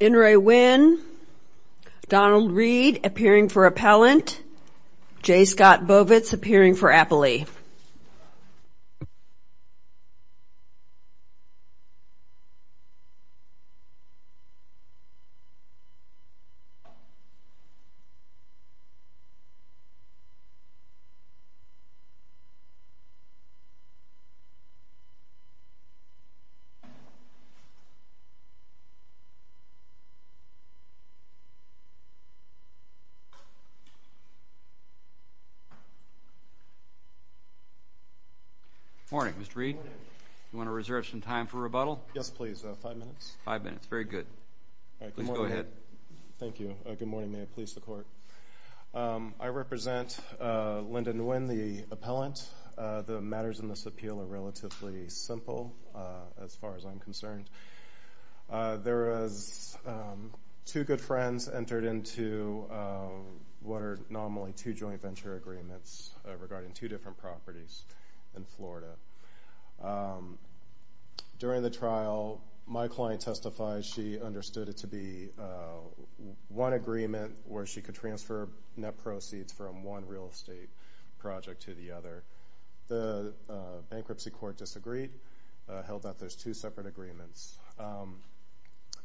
Inri Nguyen, Donald Reed appearing for Appellant, J. Scott Bovitz appearing for Appley. Good morning, Mr. Reed, you want to reserve some time for rebuttal? Yes, please. Five minutes. Five minutes. Very good. All right. Good morning. Please go ahead. Thank you. Good morning. May it please the Court. I represent Lyndon Nguyen, the Appellant. The matters in this appeal are relatively simple, as far as I'm concerned. There was two good friends entered into what are normally two joint venture agreements regarding two different properties in Florida. During the trial, my client testified she understood it to be one agreement where she could transfer net proceeds from one real estate project to the other. The bankruptcy court disagreed, held that there's two separate agreements.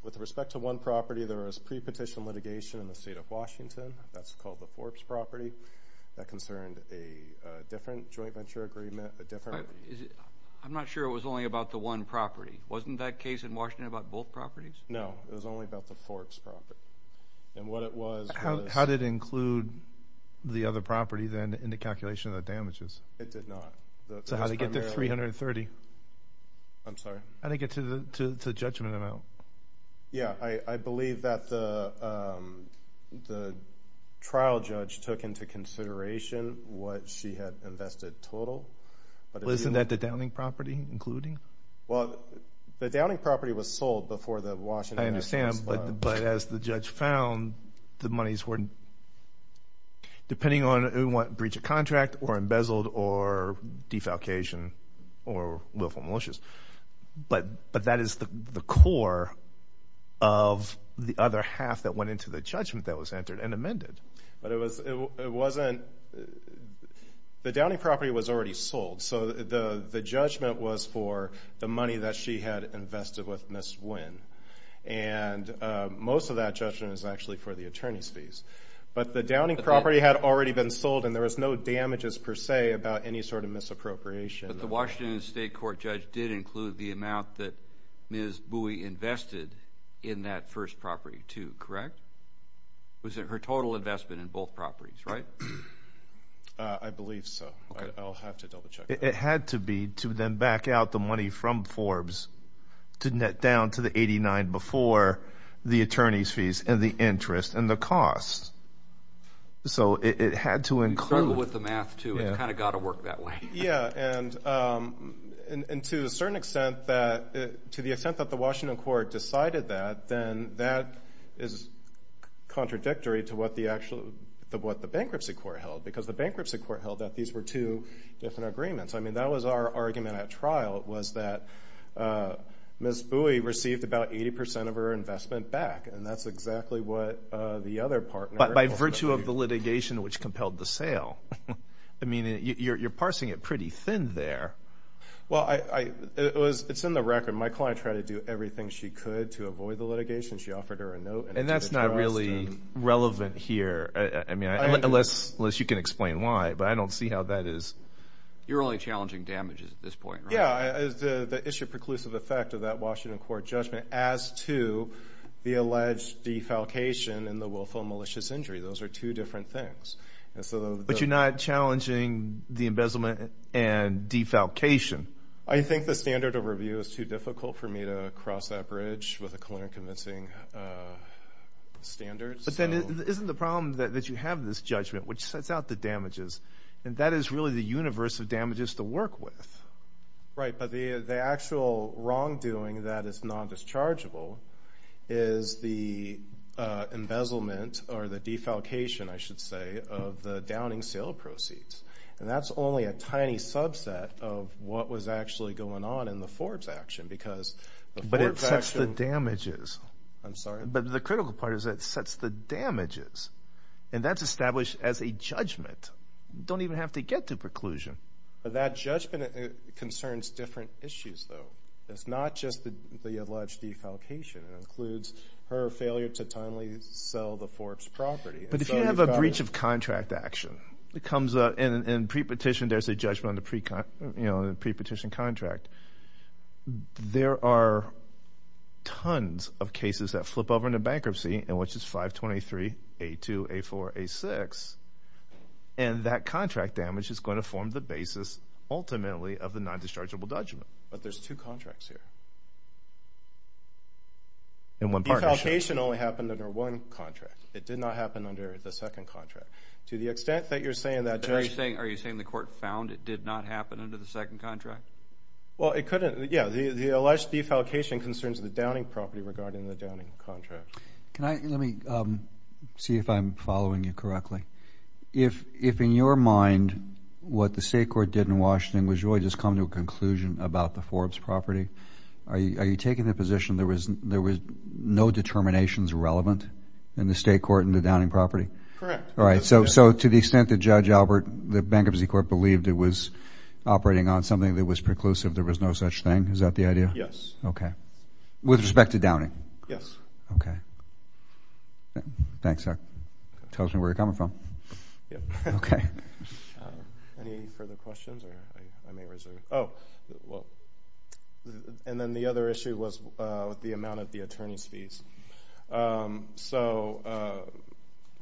With respect to one property, there was pre-petition litigation in the state of Washington, that's called the Forbes property, that concerned a different joint venture agreement, a different... I'm not sure it was only about the one property. Wasn't that case in Washington about both properties? No, it was only about the Forbes property. And what it was... How did it include the other property then in the calculation of the damages? It did not. So how did it get to 330? I'm sorry? How did it get to the judgment amount? Yeah, I believe that the trial judge took into consideration what she had invested total. Isn't that the Downing property including? Well, the Downing property was sold before the Washington... I understand, but as the judge found, the monies weren't... Depending on what breach of contract or embezzled or defalcation or willful malicious, but that is the core of the other half that went into the judgment that was entered and amended. But it wasn't... The Downing property was already sold, so the judgment was for the money that she had invested with Ms. Nguyen. And most of that judgment is actually for the attorney's fees. But the Downing property had already been sold and there was no damages per se about any sort of misappropriation. But the Washington state court judge did include the amount that Ms. Bowie invested in that first property too, correct? Was it her total investment in both properties, right? I believe so. I'll have to double check. It had to be to then back out the money from Forbes to net down to the 89 before the attorney's fees and the interest and the cost. So it had to include... Struggle with the math too. It kind of got to work that way. Yeah. And to a certain extent that... To the extent that the Washington court decided that, then that is contradictory to what the bankruptcy court held. Because the bankruptcy court held that these were two different agreements. I mean, that was our argument at trial, was that Ms. Bowie received about 80% of her investment back. And that's exactly what the other partner... But by virtue of the litigation which compelled the sale. I mean, you're parsing it pretty thin there. Well, it's in the record. My client tried to do everything she could to avoid the litigation. She offered her a note and... And that's not really relevant here. I mean, unless you can explain why, but I don't see how that is. You're only challenging damages at this point, right? Yeah. The issue of preclusive effect of that Washington court judgment as to the alleged defalcation and the willful malicious injury. Those are two different things. But you're not challenging the embezzlement and defalcation. I think the standard of review is too difficult for me to cross that bridge with a clear and clear judgment. Isn't the problem that you have this judgment, which sets out the damages, and that is really the universe of damages to work with. Right. But the actual wrongdoing that is non-dischargeable is the embezzlement or the defalcation, I should say, of the downing sale proceeds. And that's only a tiny subset of what was actually going on in the Forbes action because... But it sets the damages. I'm sorry. But the critical part is that it sets the damages. And that's established as a judgment. You don't even have to get to preclusion. But that judgment concerns different issues, though. It's not just the alleged defalcation. It includes her failure to timely sell the Forbes property. But if you have a breach of contract action, it comes up in pre-petition, there's a judgment on the pre-petition contract. There are tons of cases that flip over into bankruptcy, and which is 523, A2, A4, A6. And that contract damage is going to form the basis, ultimately, of the non-dischargeable judgment. But there's two contracts here. And one partnership. Defalcation only happened under one contract. It did not happen under the second contract. To the extent that you're saying that... Are you saying the court found it did not happen under the second contract? Well, it couldn't... Yeah. The alleged defalcation concerns the Downing property regarding the Downing contract. Let me see if I'm following you correctly. If, in your mind, what the state court did in Washington was really just come to a conclusion about the Forbes property, are you taking the position there was no determinations relevant in the state court and the Downing property? Correct. All right. So to the extent that Judge Albert, the Bankruptcy Court, believed it was operating on something that was preclusive, there was no such thing? Is that the idea? Yes. Okay. With respect to Downing? Yes. Okay. Thanks. Tells me where you're coming from. Yeah. Okay. Any further questions? Or I may reserve... Oh. And then the other issue was with the amount of the attorney's fees. So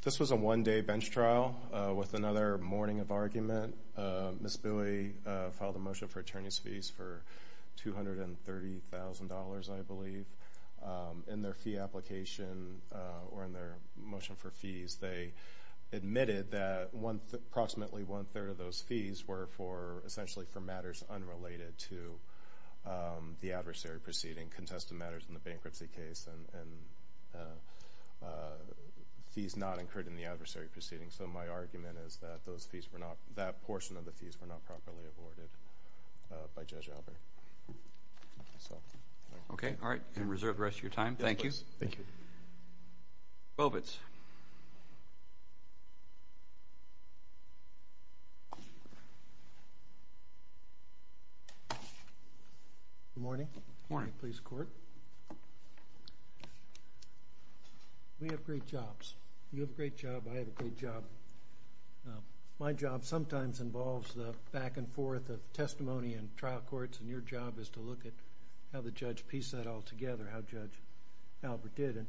this was a one-day bench trial with another morning of argument. Ms. Bowie filed a motion for attorney's fees for $230,000, I believe. In their fee application or in their motion for fees, they admitted that approximately one-third of those fees were essentially for matters unrelated to the adversary proceeding, contested matters in the bankruptcy case, and fees not incurred in the adversary proceeding. So my argument is that those fees were not, that portion of the fees were not properly awarded by Judge Albert. Okay. All right. And reserve the rest of your time. Thank you. Thank you. Bovitz. Good morning. Good morning. Please court. We have great jobs. You have a great job. I have a great job. My job sometimes involves the back and forth of testimony in trial courts, and your job is to look at how the judge pieced that all together, how Judge Albert did. And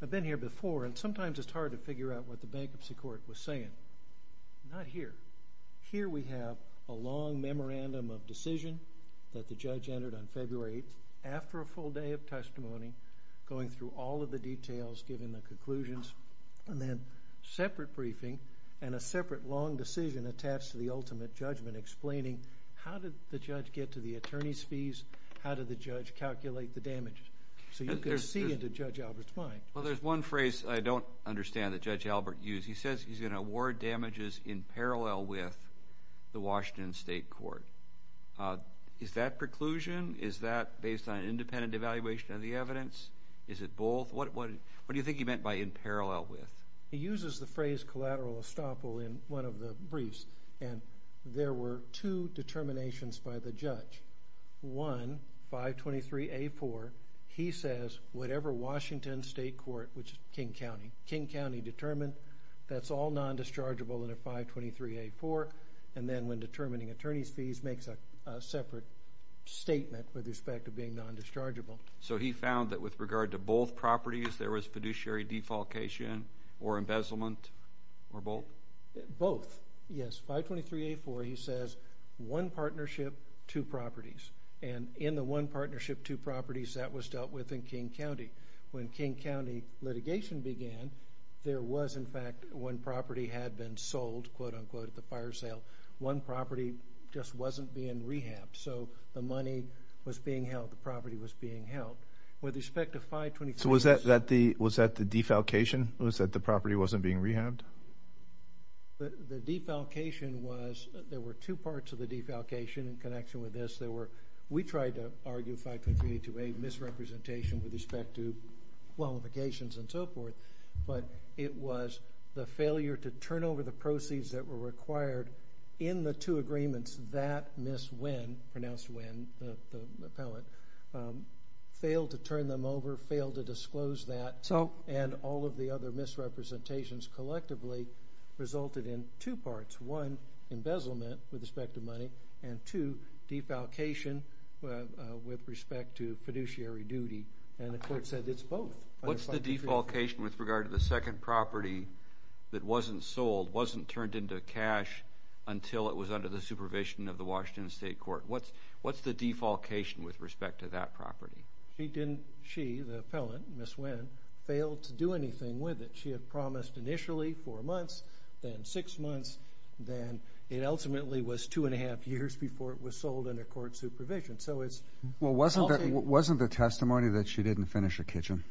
I've been here before, and sometimes it's hard to figure out what the bankruptcy court was saying. Not here. Here we have a long memorandum of decision that the judge entered on February 8th after a full day of testimony, going through all of the details, giving the conclusions, and then separate briefing and a separate long decision attached to the ultimate judgment explaining how did the judge get to the attorney's fees, how did the judge calculate the damage. So you could see into Judge Albert's mind. Well, there's one phrase I don't understand that Judge Albert used. He says he's going to award damages in parallel with the Washington State Court. Is that preclusion? Is that based on an independent evaluation of the evidence? Is it both? What do you think he meant by in parallel with? He uses the phrase collateral estoppel in one of the briefs, and there were two determinations by the judge. One, 523A4, he says whatever Washington State Court, which is King County, King County determined that's all non-dischargeable under 523A4, and then when determining attorney's fees makes a separate statement with respect to being non-dischargeable. So he found that with regard to both properties, there was fiduciary defalcation or embezzlement or both? Both, yes. 523A4, he says one partnership, two properties, and in the one partnership, two properties, that was dealt with in King County. When King County litigation began, there was in fact one property had been sold, quote unquote, at the fire sale. One property just wasn't being rehabbed, so the money was being held, the property was being held. With respect to 523... So was that the defalcation? Was that the property wasn't being rehabbed? The defalcation was, there were two parts of the defalcation in connection with this. There were, we tried to argue 523A2 misrepresentation with respect to qualifications and so forth, but it was the failure to turn over the proceeds that were required in the two agreements that Ms. Wynn, pronounced Wynn, the appellate, failed to turn them over, failed to disclose that, and all of the other misrepresentations collectively resulted in two parts. One, embezzlement with respect to money, and two, defalcation with respect to fiduciary duty, and the court said it's both. What's the defalcation with regard to the second property that wasn't sold, wasn't turned into cash until it was under the supervision of the Washington State Court? What's the defalcation with respect to that property? She, the appellant, Ms. Wynn, failed to do anything with it. She had promised initially four months, then six months, then it ultimately was two and a half years before it was sold under court supervision, so it's... Well, wasn't the testimony that she didn't finish her kitchen?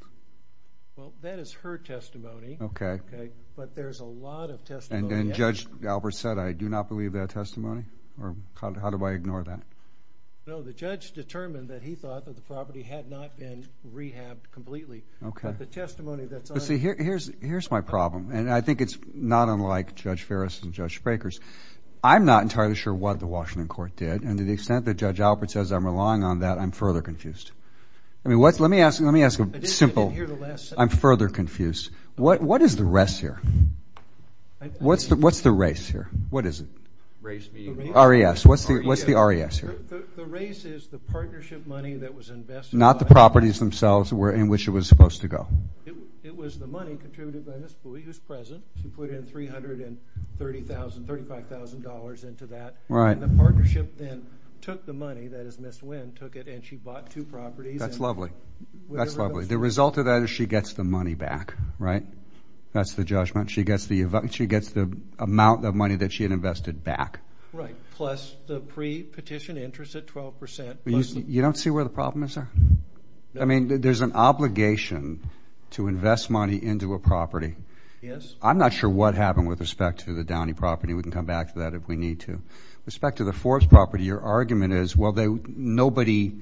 Well, that is her testimony. Okay. Okay, but there's a lot of testimony. And Judge Alpert said, I do not believe that testimony, or how do I ignore that? No, the judge determined that he thought that the property had not been rehabbed completely, but the testimony that's... But see, here's my problem, and I think it's not unlike Judge Ferris and Judge Sprakers. I'm not entirely sure what the Washington Court did, and to the extent that Judge Alpert says I'm relying on that, I'm further confused. I mean, let me ask a simple... I'm further confused. What is the rest here? What's the race here? What is it? R.E.S. What's the R.E.S. here? The race is the partnership money that was invested... Not the properties themselves in which it was supposed to go. It was the money contributed by Ms. Bowie, who's present. She put $330,000, $35,000 into that. Right. And the partnership then took the money, that is, Ms. Wynn took it, and she bought two properties. That's lovely. That's lovely. The result of that is she gets the money back, right? That's the judgment. She gets the amount of money that she had invested back. Right, plus the pre-petition interest at 12%. You don't see where the problem is there? I mean, there's an obligation to invest money into a property. Yes. I'm not sure what happened with respect to the Downey property. We can come back to that if we need to. With respect to the Forbes property, your argument is, well, nobody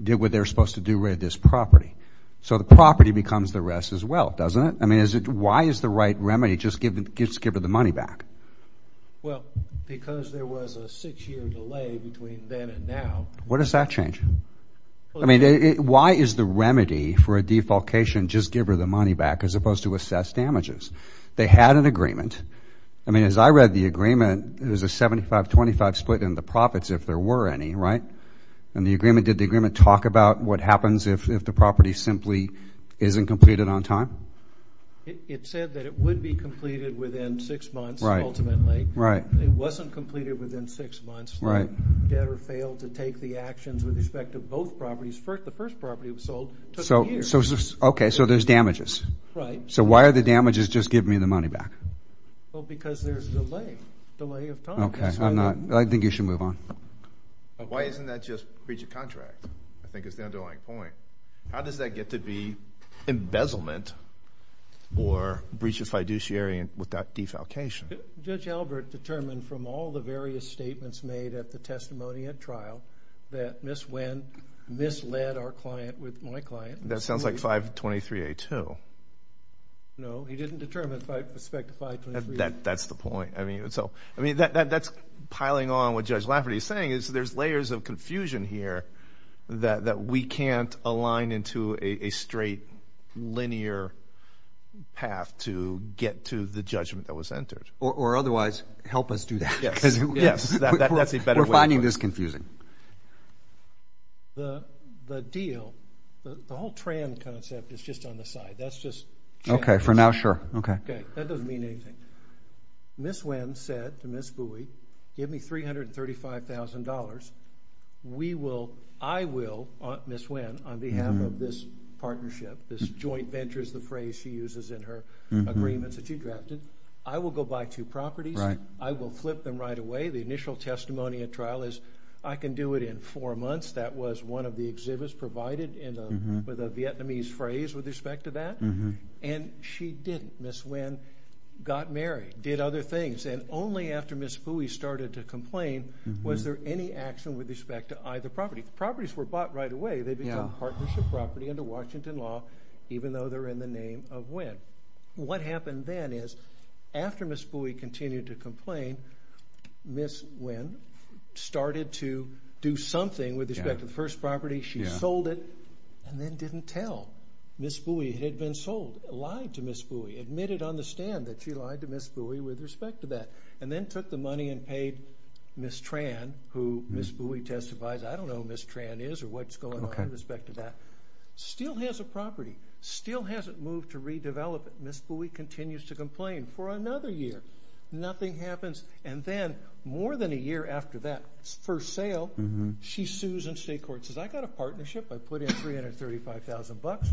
did what they were supposed to do with this property. So the property becomes the R.E.S. as well, doesn't it? I mean, why is the right remedy just giving the money back? Well, because there was a six-year delay between then and now. What does that change? I mean, why is the remedy for a defalcation just give her the money back as opposed to assess damages? They had an agreement. I mean, as I read the agreement, there's a 75-25 split in the profits if there were any, right? And the agreement, did the agreement talk about what happens if the property simply isn't completed on time? It said that it would be completed within six months, ultimately. Right. It wasn't completed within six months. Debtor failed to take the actions with respect to both properties. The first property was sold. Okay. So there's damages. Right. So why are the damages just giving me the money back? Well, because there's a delay, delay of time. Okay. I think you should move on. Why isn't that just breach of contract? I think it's the underlying point. How does that get to be embezzlement or breaches fiduciary with that defalcation? Judge Albert determined from all the various statements made at the testimony at trial that Ms. Wendt misled our client with my client. That sounds like 523A2. No, he didn't determine it by respect to 523A2. That's the point. I mean, that's piling on what Judge Lafferty is saying is there's layers of confusion here that we can't align into a straight linear path to get to the judgment that was entered. Or otherwise, help us do that. Yes. We're finding this confusing. The deal, the whole TRAN concept is just on the side. That's just... Okay. For now, sure. Okay. That doesn't mean anything. Ms. Wendt said to Ms. Bowie, give me $335,000. I will, Ms. Wendt, on behalf of this partnership, this joint venture is the phrase she uses in her agreements that you drafted. I will go buy two properties. I will flip them right away. The initial testimony at trial is I can do it in four months. That was one of the exhibits provided with a Vietnamese phrase with respect to that. And she didn't. Ms. Wendt got married, did other things. And only after Ms. Bowie started to complain was there any action with respect to either property. Properties were bought right away. They become partnership property under Washington law, even though they're in the name of Wendt. What happened then is after Ms. Bowie continued to complain, Ms. Wendt started to do something with respect to the first property. She sold it and then didn't tell. Ms. Bowie had been sold, lied to Ms. Bowie, admitted on the stand that she lied to Ms. Bowie with respect to that. And then took the money and paid Ms. TRAN, who Ms. Bowie testifies. I don't know who Ms. TRAN is or what's going on with respect to that. Still has a property. Still hasn't moved to redevelop it. Ms. Bowie continues to complain for another year. Nothing happens. And then more than a year after that first sale, she sues and state court says, I got a partnership. I put in $335,000.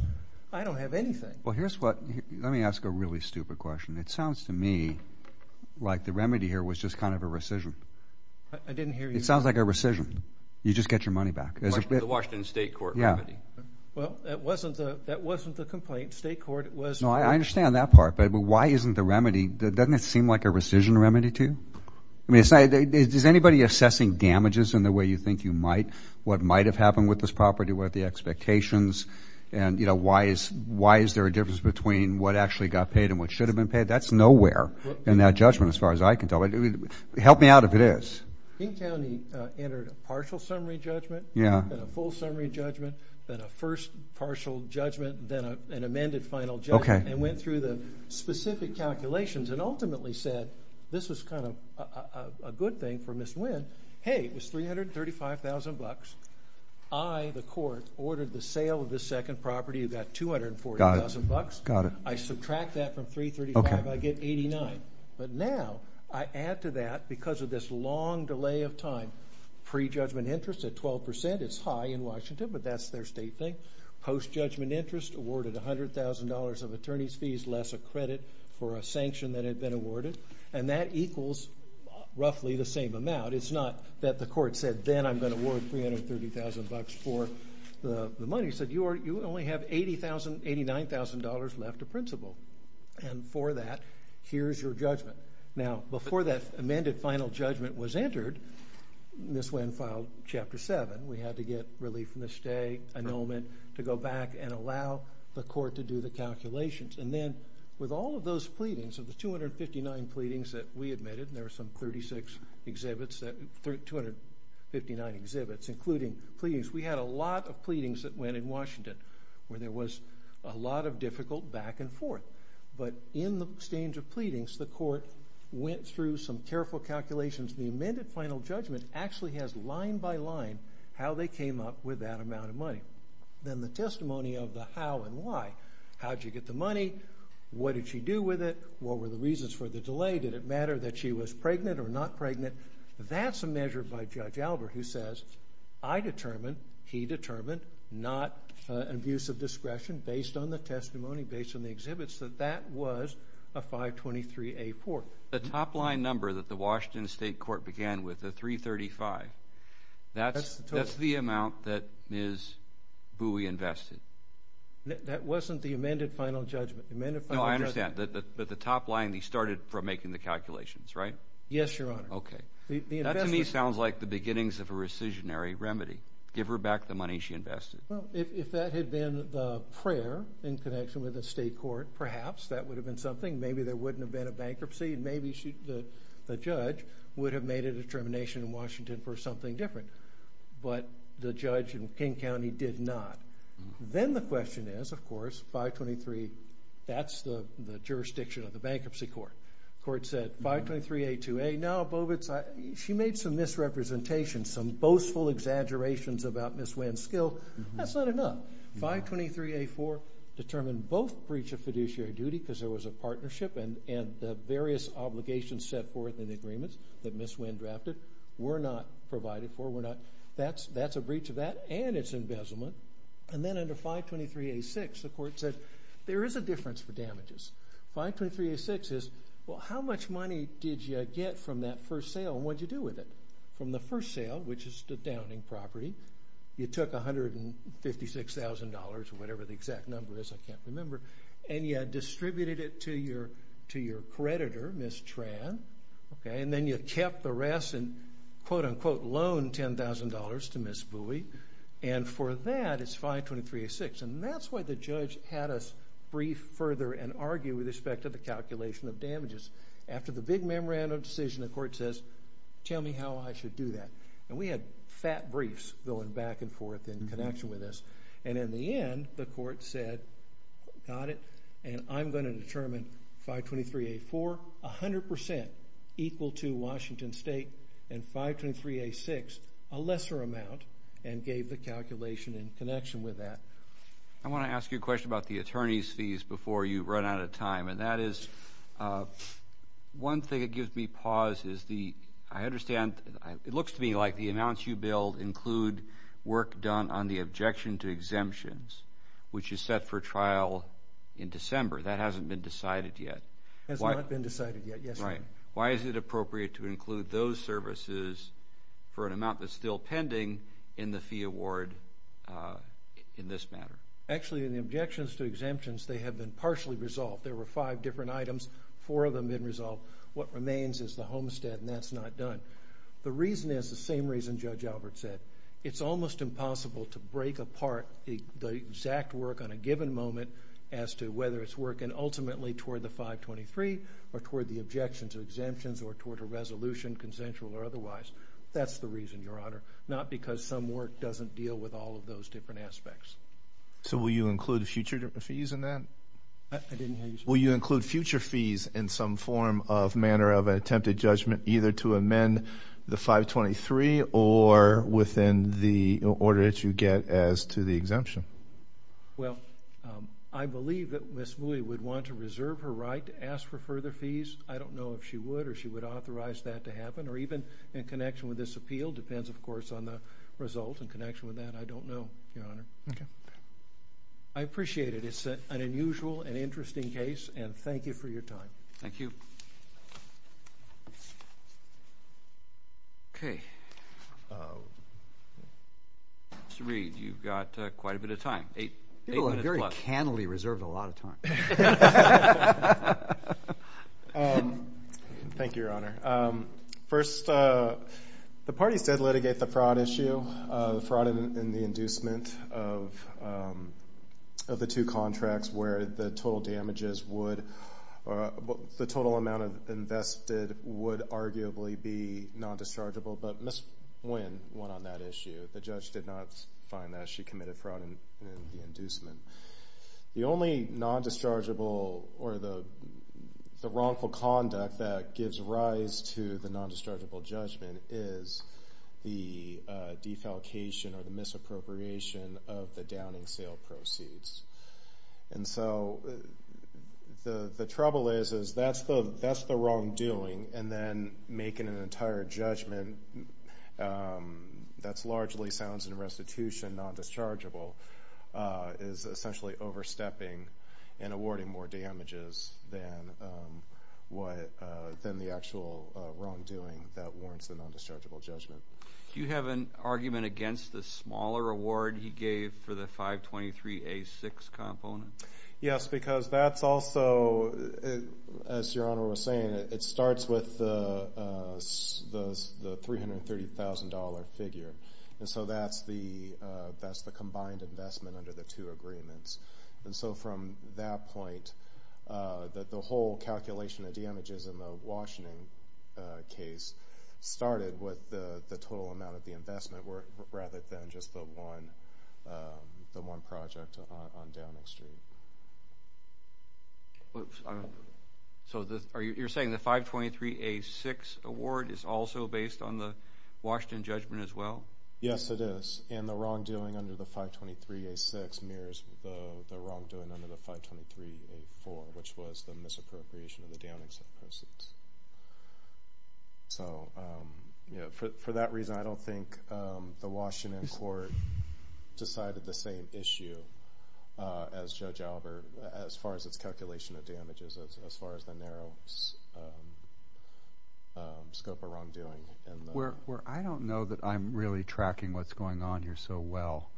I don't have anything. Well, here's what, let me ask a really stupid question. It sounds to me like the remedy here was just kind of a rescission. I didn't hear you. It sounds like a rescission. You just get your remedy. Well, that wasn't the complaint. State court was. No, I understand that part. But why isn't the remedy, doesn't it seem like a rescission remedy to you? I mean, is anybody assessing damages in the way you think you might? What might have happened with this property? What are the expectations? And, you know, why is there a difference between what actually got paid and what should have been paid? That's nowhere in that judgment as far as I can tell. Help me out if it is. King County entered a partial summary judgment and a full summary judgment, then a first partial judgment, then an amended final judgment and went through the specific calculations and ultimately said, this was kind of a good thing for Ms. Wynn. Hey, it was $335,000. I, the court, ordered the sale of the second property. You got $240,000. I subtract that from $335,000, I get $389,000. But now, I add to that, because of this long delay of time, pre-judgment interest at 12%, it's high in Washington, but that's their state thing. Post-judgment interest awarded $100,000 of attorney's fees less a credit for a sanction that had been awarded. And that equals roughly the same amount. It's not that the court said, then I'm going to award $330,000 for the money. You only have $89,000 left of principal. And for that, here's your judgment. Now, before that amended final judgment was entered, Ms. Wynn filed Chapter 7. We had to get relief from the stay, annulment, to go back and allow the court to do the calculations. And then, with all of those pleadings, of the 259 pleadings that we admitted, and there were some 36 exhibits, 259 exhibits, including pleadings. We had a lot of pleadings that went in Washington, where there was a lot of difficult back and forth. But in the exchange of pleadings, the court went through some careful calculations. The amended final judgment actually has, line by line, how they came up with that amount of money. Then, the testimony of the how and why. How did you get the money? What did she do with it? What were the reasons for the delay? Did it matter that she was pregnant or not pregnant? That's a measure by Judge Albert, who says, I determined, he determined, not an abuse of discretion, based on the testimony, based on the exhibits, that that was a 523A4. The top line number that the Washington State Court began with, the 335, that's the amount that Ms. Bowie invested. That wasn't the amended final judgment. No, I understand. But the top line, he started from making the calculations, right? Yes, Your Honor. Okay. That, to me, sounds like the beginnings of a rescissionary remedy. Give her back the money she invested. Well, if that had been the prayer in connection with the state court, perhaps that would have been something. Maybe there wouldn't have been a bankruptcy. Maybe the judge would have made a determination in Washington for something different. But the judge in King County did not. Then the question is, of course, 523, that's the jurisdiction of the bankruptcy court. Court said, 523A2A, no, Bovitz, she made some misrepresentations, some boastful exaggerations about Ms. Winn's skill. That's not enough. 523A4 determined both breach of fiduciary duty, because there was a partnership, and the various obligations set forth in the agreements that Ms. Winn drafted were not provided for. That's a breach of that and its embezzlement. Then under 523A6, the court said, there is a difference for damages. 523A6 is, well, how much money did you get from that first sale and what did you do with it? From the first sale, which is the downing property, you took $156,000 or whatever the exact number is, I can't remember, and you had distributed it to your creditor, Ms. Tran, and then you kept the rest and quote, unquote, loaned $10,000 to Ms. Bowie, and for that, it's 523A6. That's why the judge had us brief further and argue with respect to the calculation of damages. After the big memorandum decision, the court says, tell me how I should do that. We had fat briefs going back and forth in connection with this. In the end, the court said, got it, and I'm going to determine 523A4 100% equal to Washington State and 523A6, a lesser amount, and gave the calculation in connection with that. I want to ask you a question about the attorney's fees before you run out of time, and that is, one thing that gives me pause is the, I understand, it looks to me like the amounts you billed include work done on the objection to exemptions, which is set for trial in December. That hasn't been decided yet. Has not been decided yet, yes. Right. Why is it appropriate to include those services for an amount that's still pending in the fee award in this manner? Actually, in the objections to exemptions, they have been partially resolved. There were five different items, four of them been resolved. What remains is the homestead, and that's not done. The reason is the same reason Judge Albert said. It's almost impossible to break apart the exact work on a given moment as to whether it's working ultimately toward the 523 or toward the objections or exemptions or toward a resolution, consensual or otherwise. That's the reason, Your Honor, not because some work doesn't deal with all of those different aspects. So will you include future fees in that? I didn't hear you say that. Will you include future fees in some form of manner of an attempted judgment either to amend the 523 or within the order that you get as to the exemption? Well, I believe that Ms. Mui would want to reserve her right to ask for further fees. I don't know if she would or she would authorize that to happen, or even in connection with this appeal. Depends, of course, on the result in connection with that. I don't know, Your Honor. Okay. I appreciate it. It's an unusual and interesting case, and thank you for your time. Thank you. Okay. Mr. Reed, you've got quite a bit of time, eight minutes plus. People are very cannily reserved a lot of time. Thank you, Your Honor. First, the party said litigate the fraud issue, the fraud in the inducement of the two contracts where the total damages would, the total amount invested would arguably be non-dischargeable, but Ms. Mui went on that issue. The judge did not find that she committed fraud in the inducement. The only non-dischargeable or the wrongful conduct that gives rise to the non-dischargeable judgment is the defalcation or the misappropriation of the downing sale proceeds. And so the trouble is that's the wrongdoing, and then making an entire judgment that largely sounds in restitution non-dischargeable is essentially overstepping and awarding more damages than the actual wrongdoing that warrants the non-dischargeable judgment. Do you have an argument against the smaller award he gave for the 523A6 component? Yes, because that's also, as Your Honor was saying, it starts with the $330,000 figure, and so that's the combined investment under the two agreements. And so from that point, the whole calculation of damages in the Washington case started with the total amount of the investment rather than just the one project on downing street. So you're saying the 523A6 award is also based on the Washington judgment as well? Yes, it is. And the wrongdoing under the 523A6 mirrors the wrongdoing under the 523A4, which was the misappropriation of the downing sale proceeds. So for that reason, I don't think the Washington court decided the same issue as Judge Albert as far as its calculation of damages, as far as the narrow scope of wrongdoing. I don't know that I'm really tracking what's going on here so well.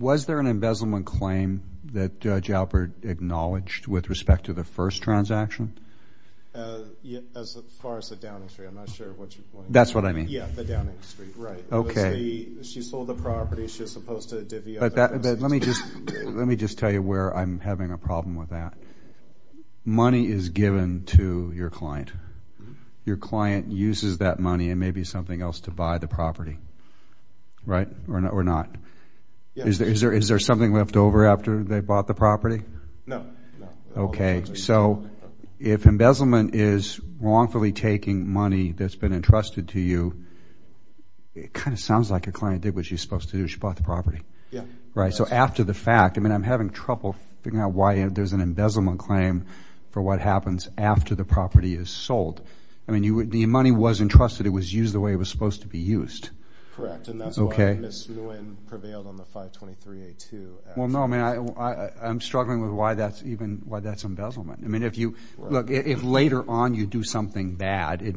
Was there an embezzlement claim that Judge Albert acknowledged with respect to the first transaction? As far as the downing street, I'm not sure which one. That's what I mean. Yeah, the downing street, right. She sold the property. She was supposed to divvy up the proceeds. But let me just tell you where I'm having a problem with that. Money is given to your client. Your client uses that money and maybe something else to buy the property, right? Or not. Is there something left over after they bought the property? No. Okay. So if embezzlement is wrongfully taking money that's been entrusted to you, it kind of sounds like your client did what she was supposed to do. She bought the property. Yeah. Right. So after the fact, I mean, I'm having trouble figuring out why there's an embezzlement claim for what happens after the property is sold. I mean, the money wasn't trusted. It was used the way it was supposed to be used. Correct. And that's why Ms. Nguyen prevailed on the 523A2. Well, no, I mean, I'm struggling with why that's embezzlement. I mean, if later on you do something bad, it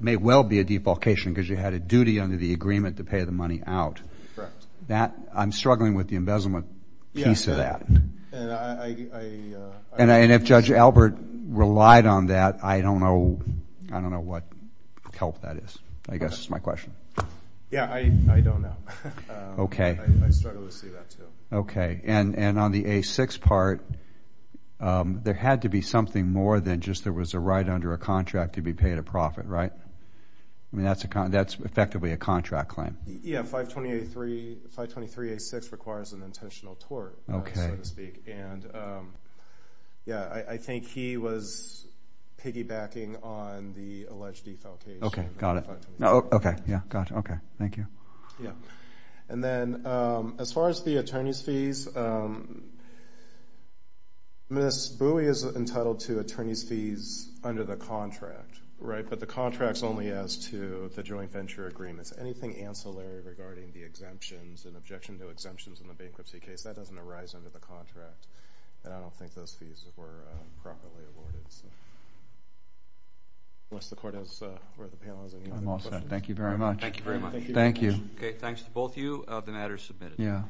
may well be a defalcation because you had a duty under the agreement to pay the money out. Correct. I'm struggling with the embezzlement piece of that. And if Judge Albert relied on that, I don't know what help that is. I guess that's my question. Yeah. I don't know. Okay. I struggle to see that too. Okay. And on the A6 part, there had to be something more than just there was a right under a contract to be paid a profit, right? I mean, that's effectively a contract claim. Yeah. 523A6 requires an intentional tort, so to speak. And yeah, I think he was piggybacking on the alleged defalcation. Okay. Got it. Okay. Yeah. Got it. Okay. Thank you. Yeah. And then as far as the attorney's fees, Miss Bowie is entitled to attorney's fees under the contract, right? But the contract's only as to the joint venture agreements. Anything ancillary regarding the exemptions and objection to exemptions in the bankruptcy case, that doesn't arise under the contract. And I don't think those fees were properly awarded. Unless the panel has any other questions. I'm all set. Thank you very much. Thank you very much. Thank you. Okay. Thanks to both of you. The matter is submitted. Yeah.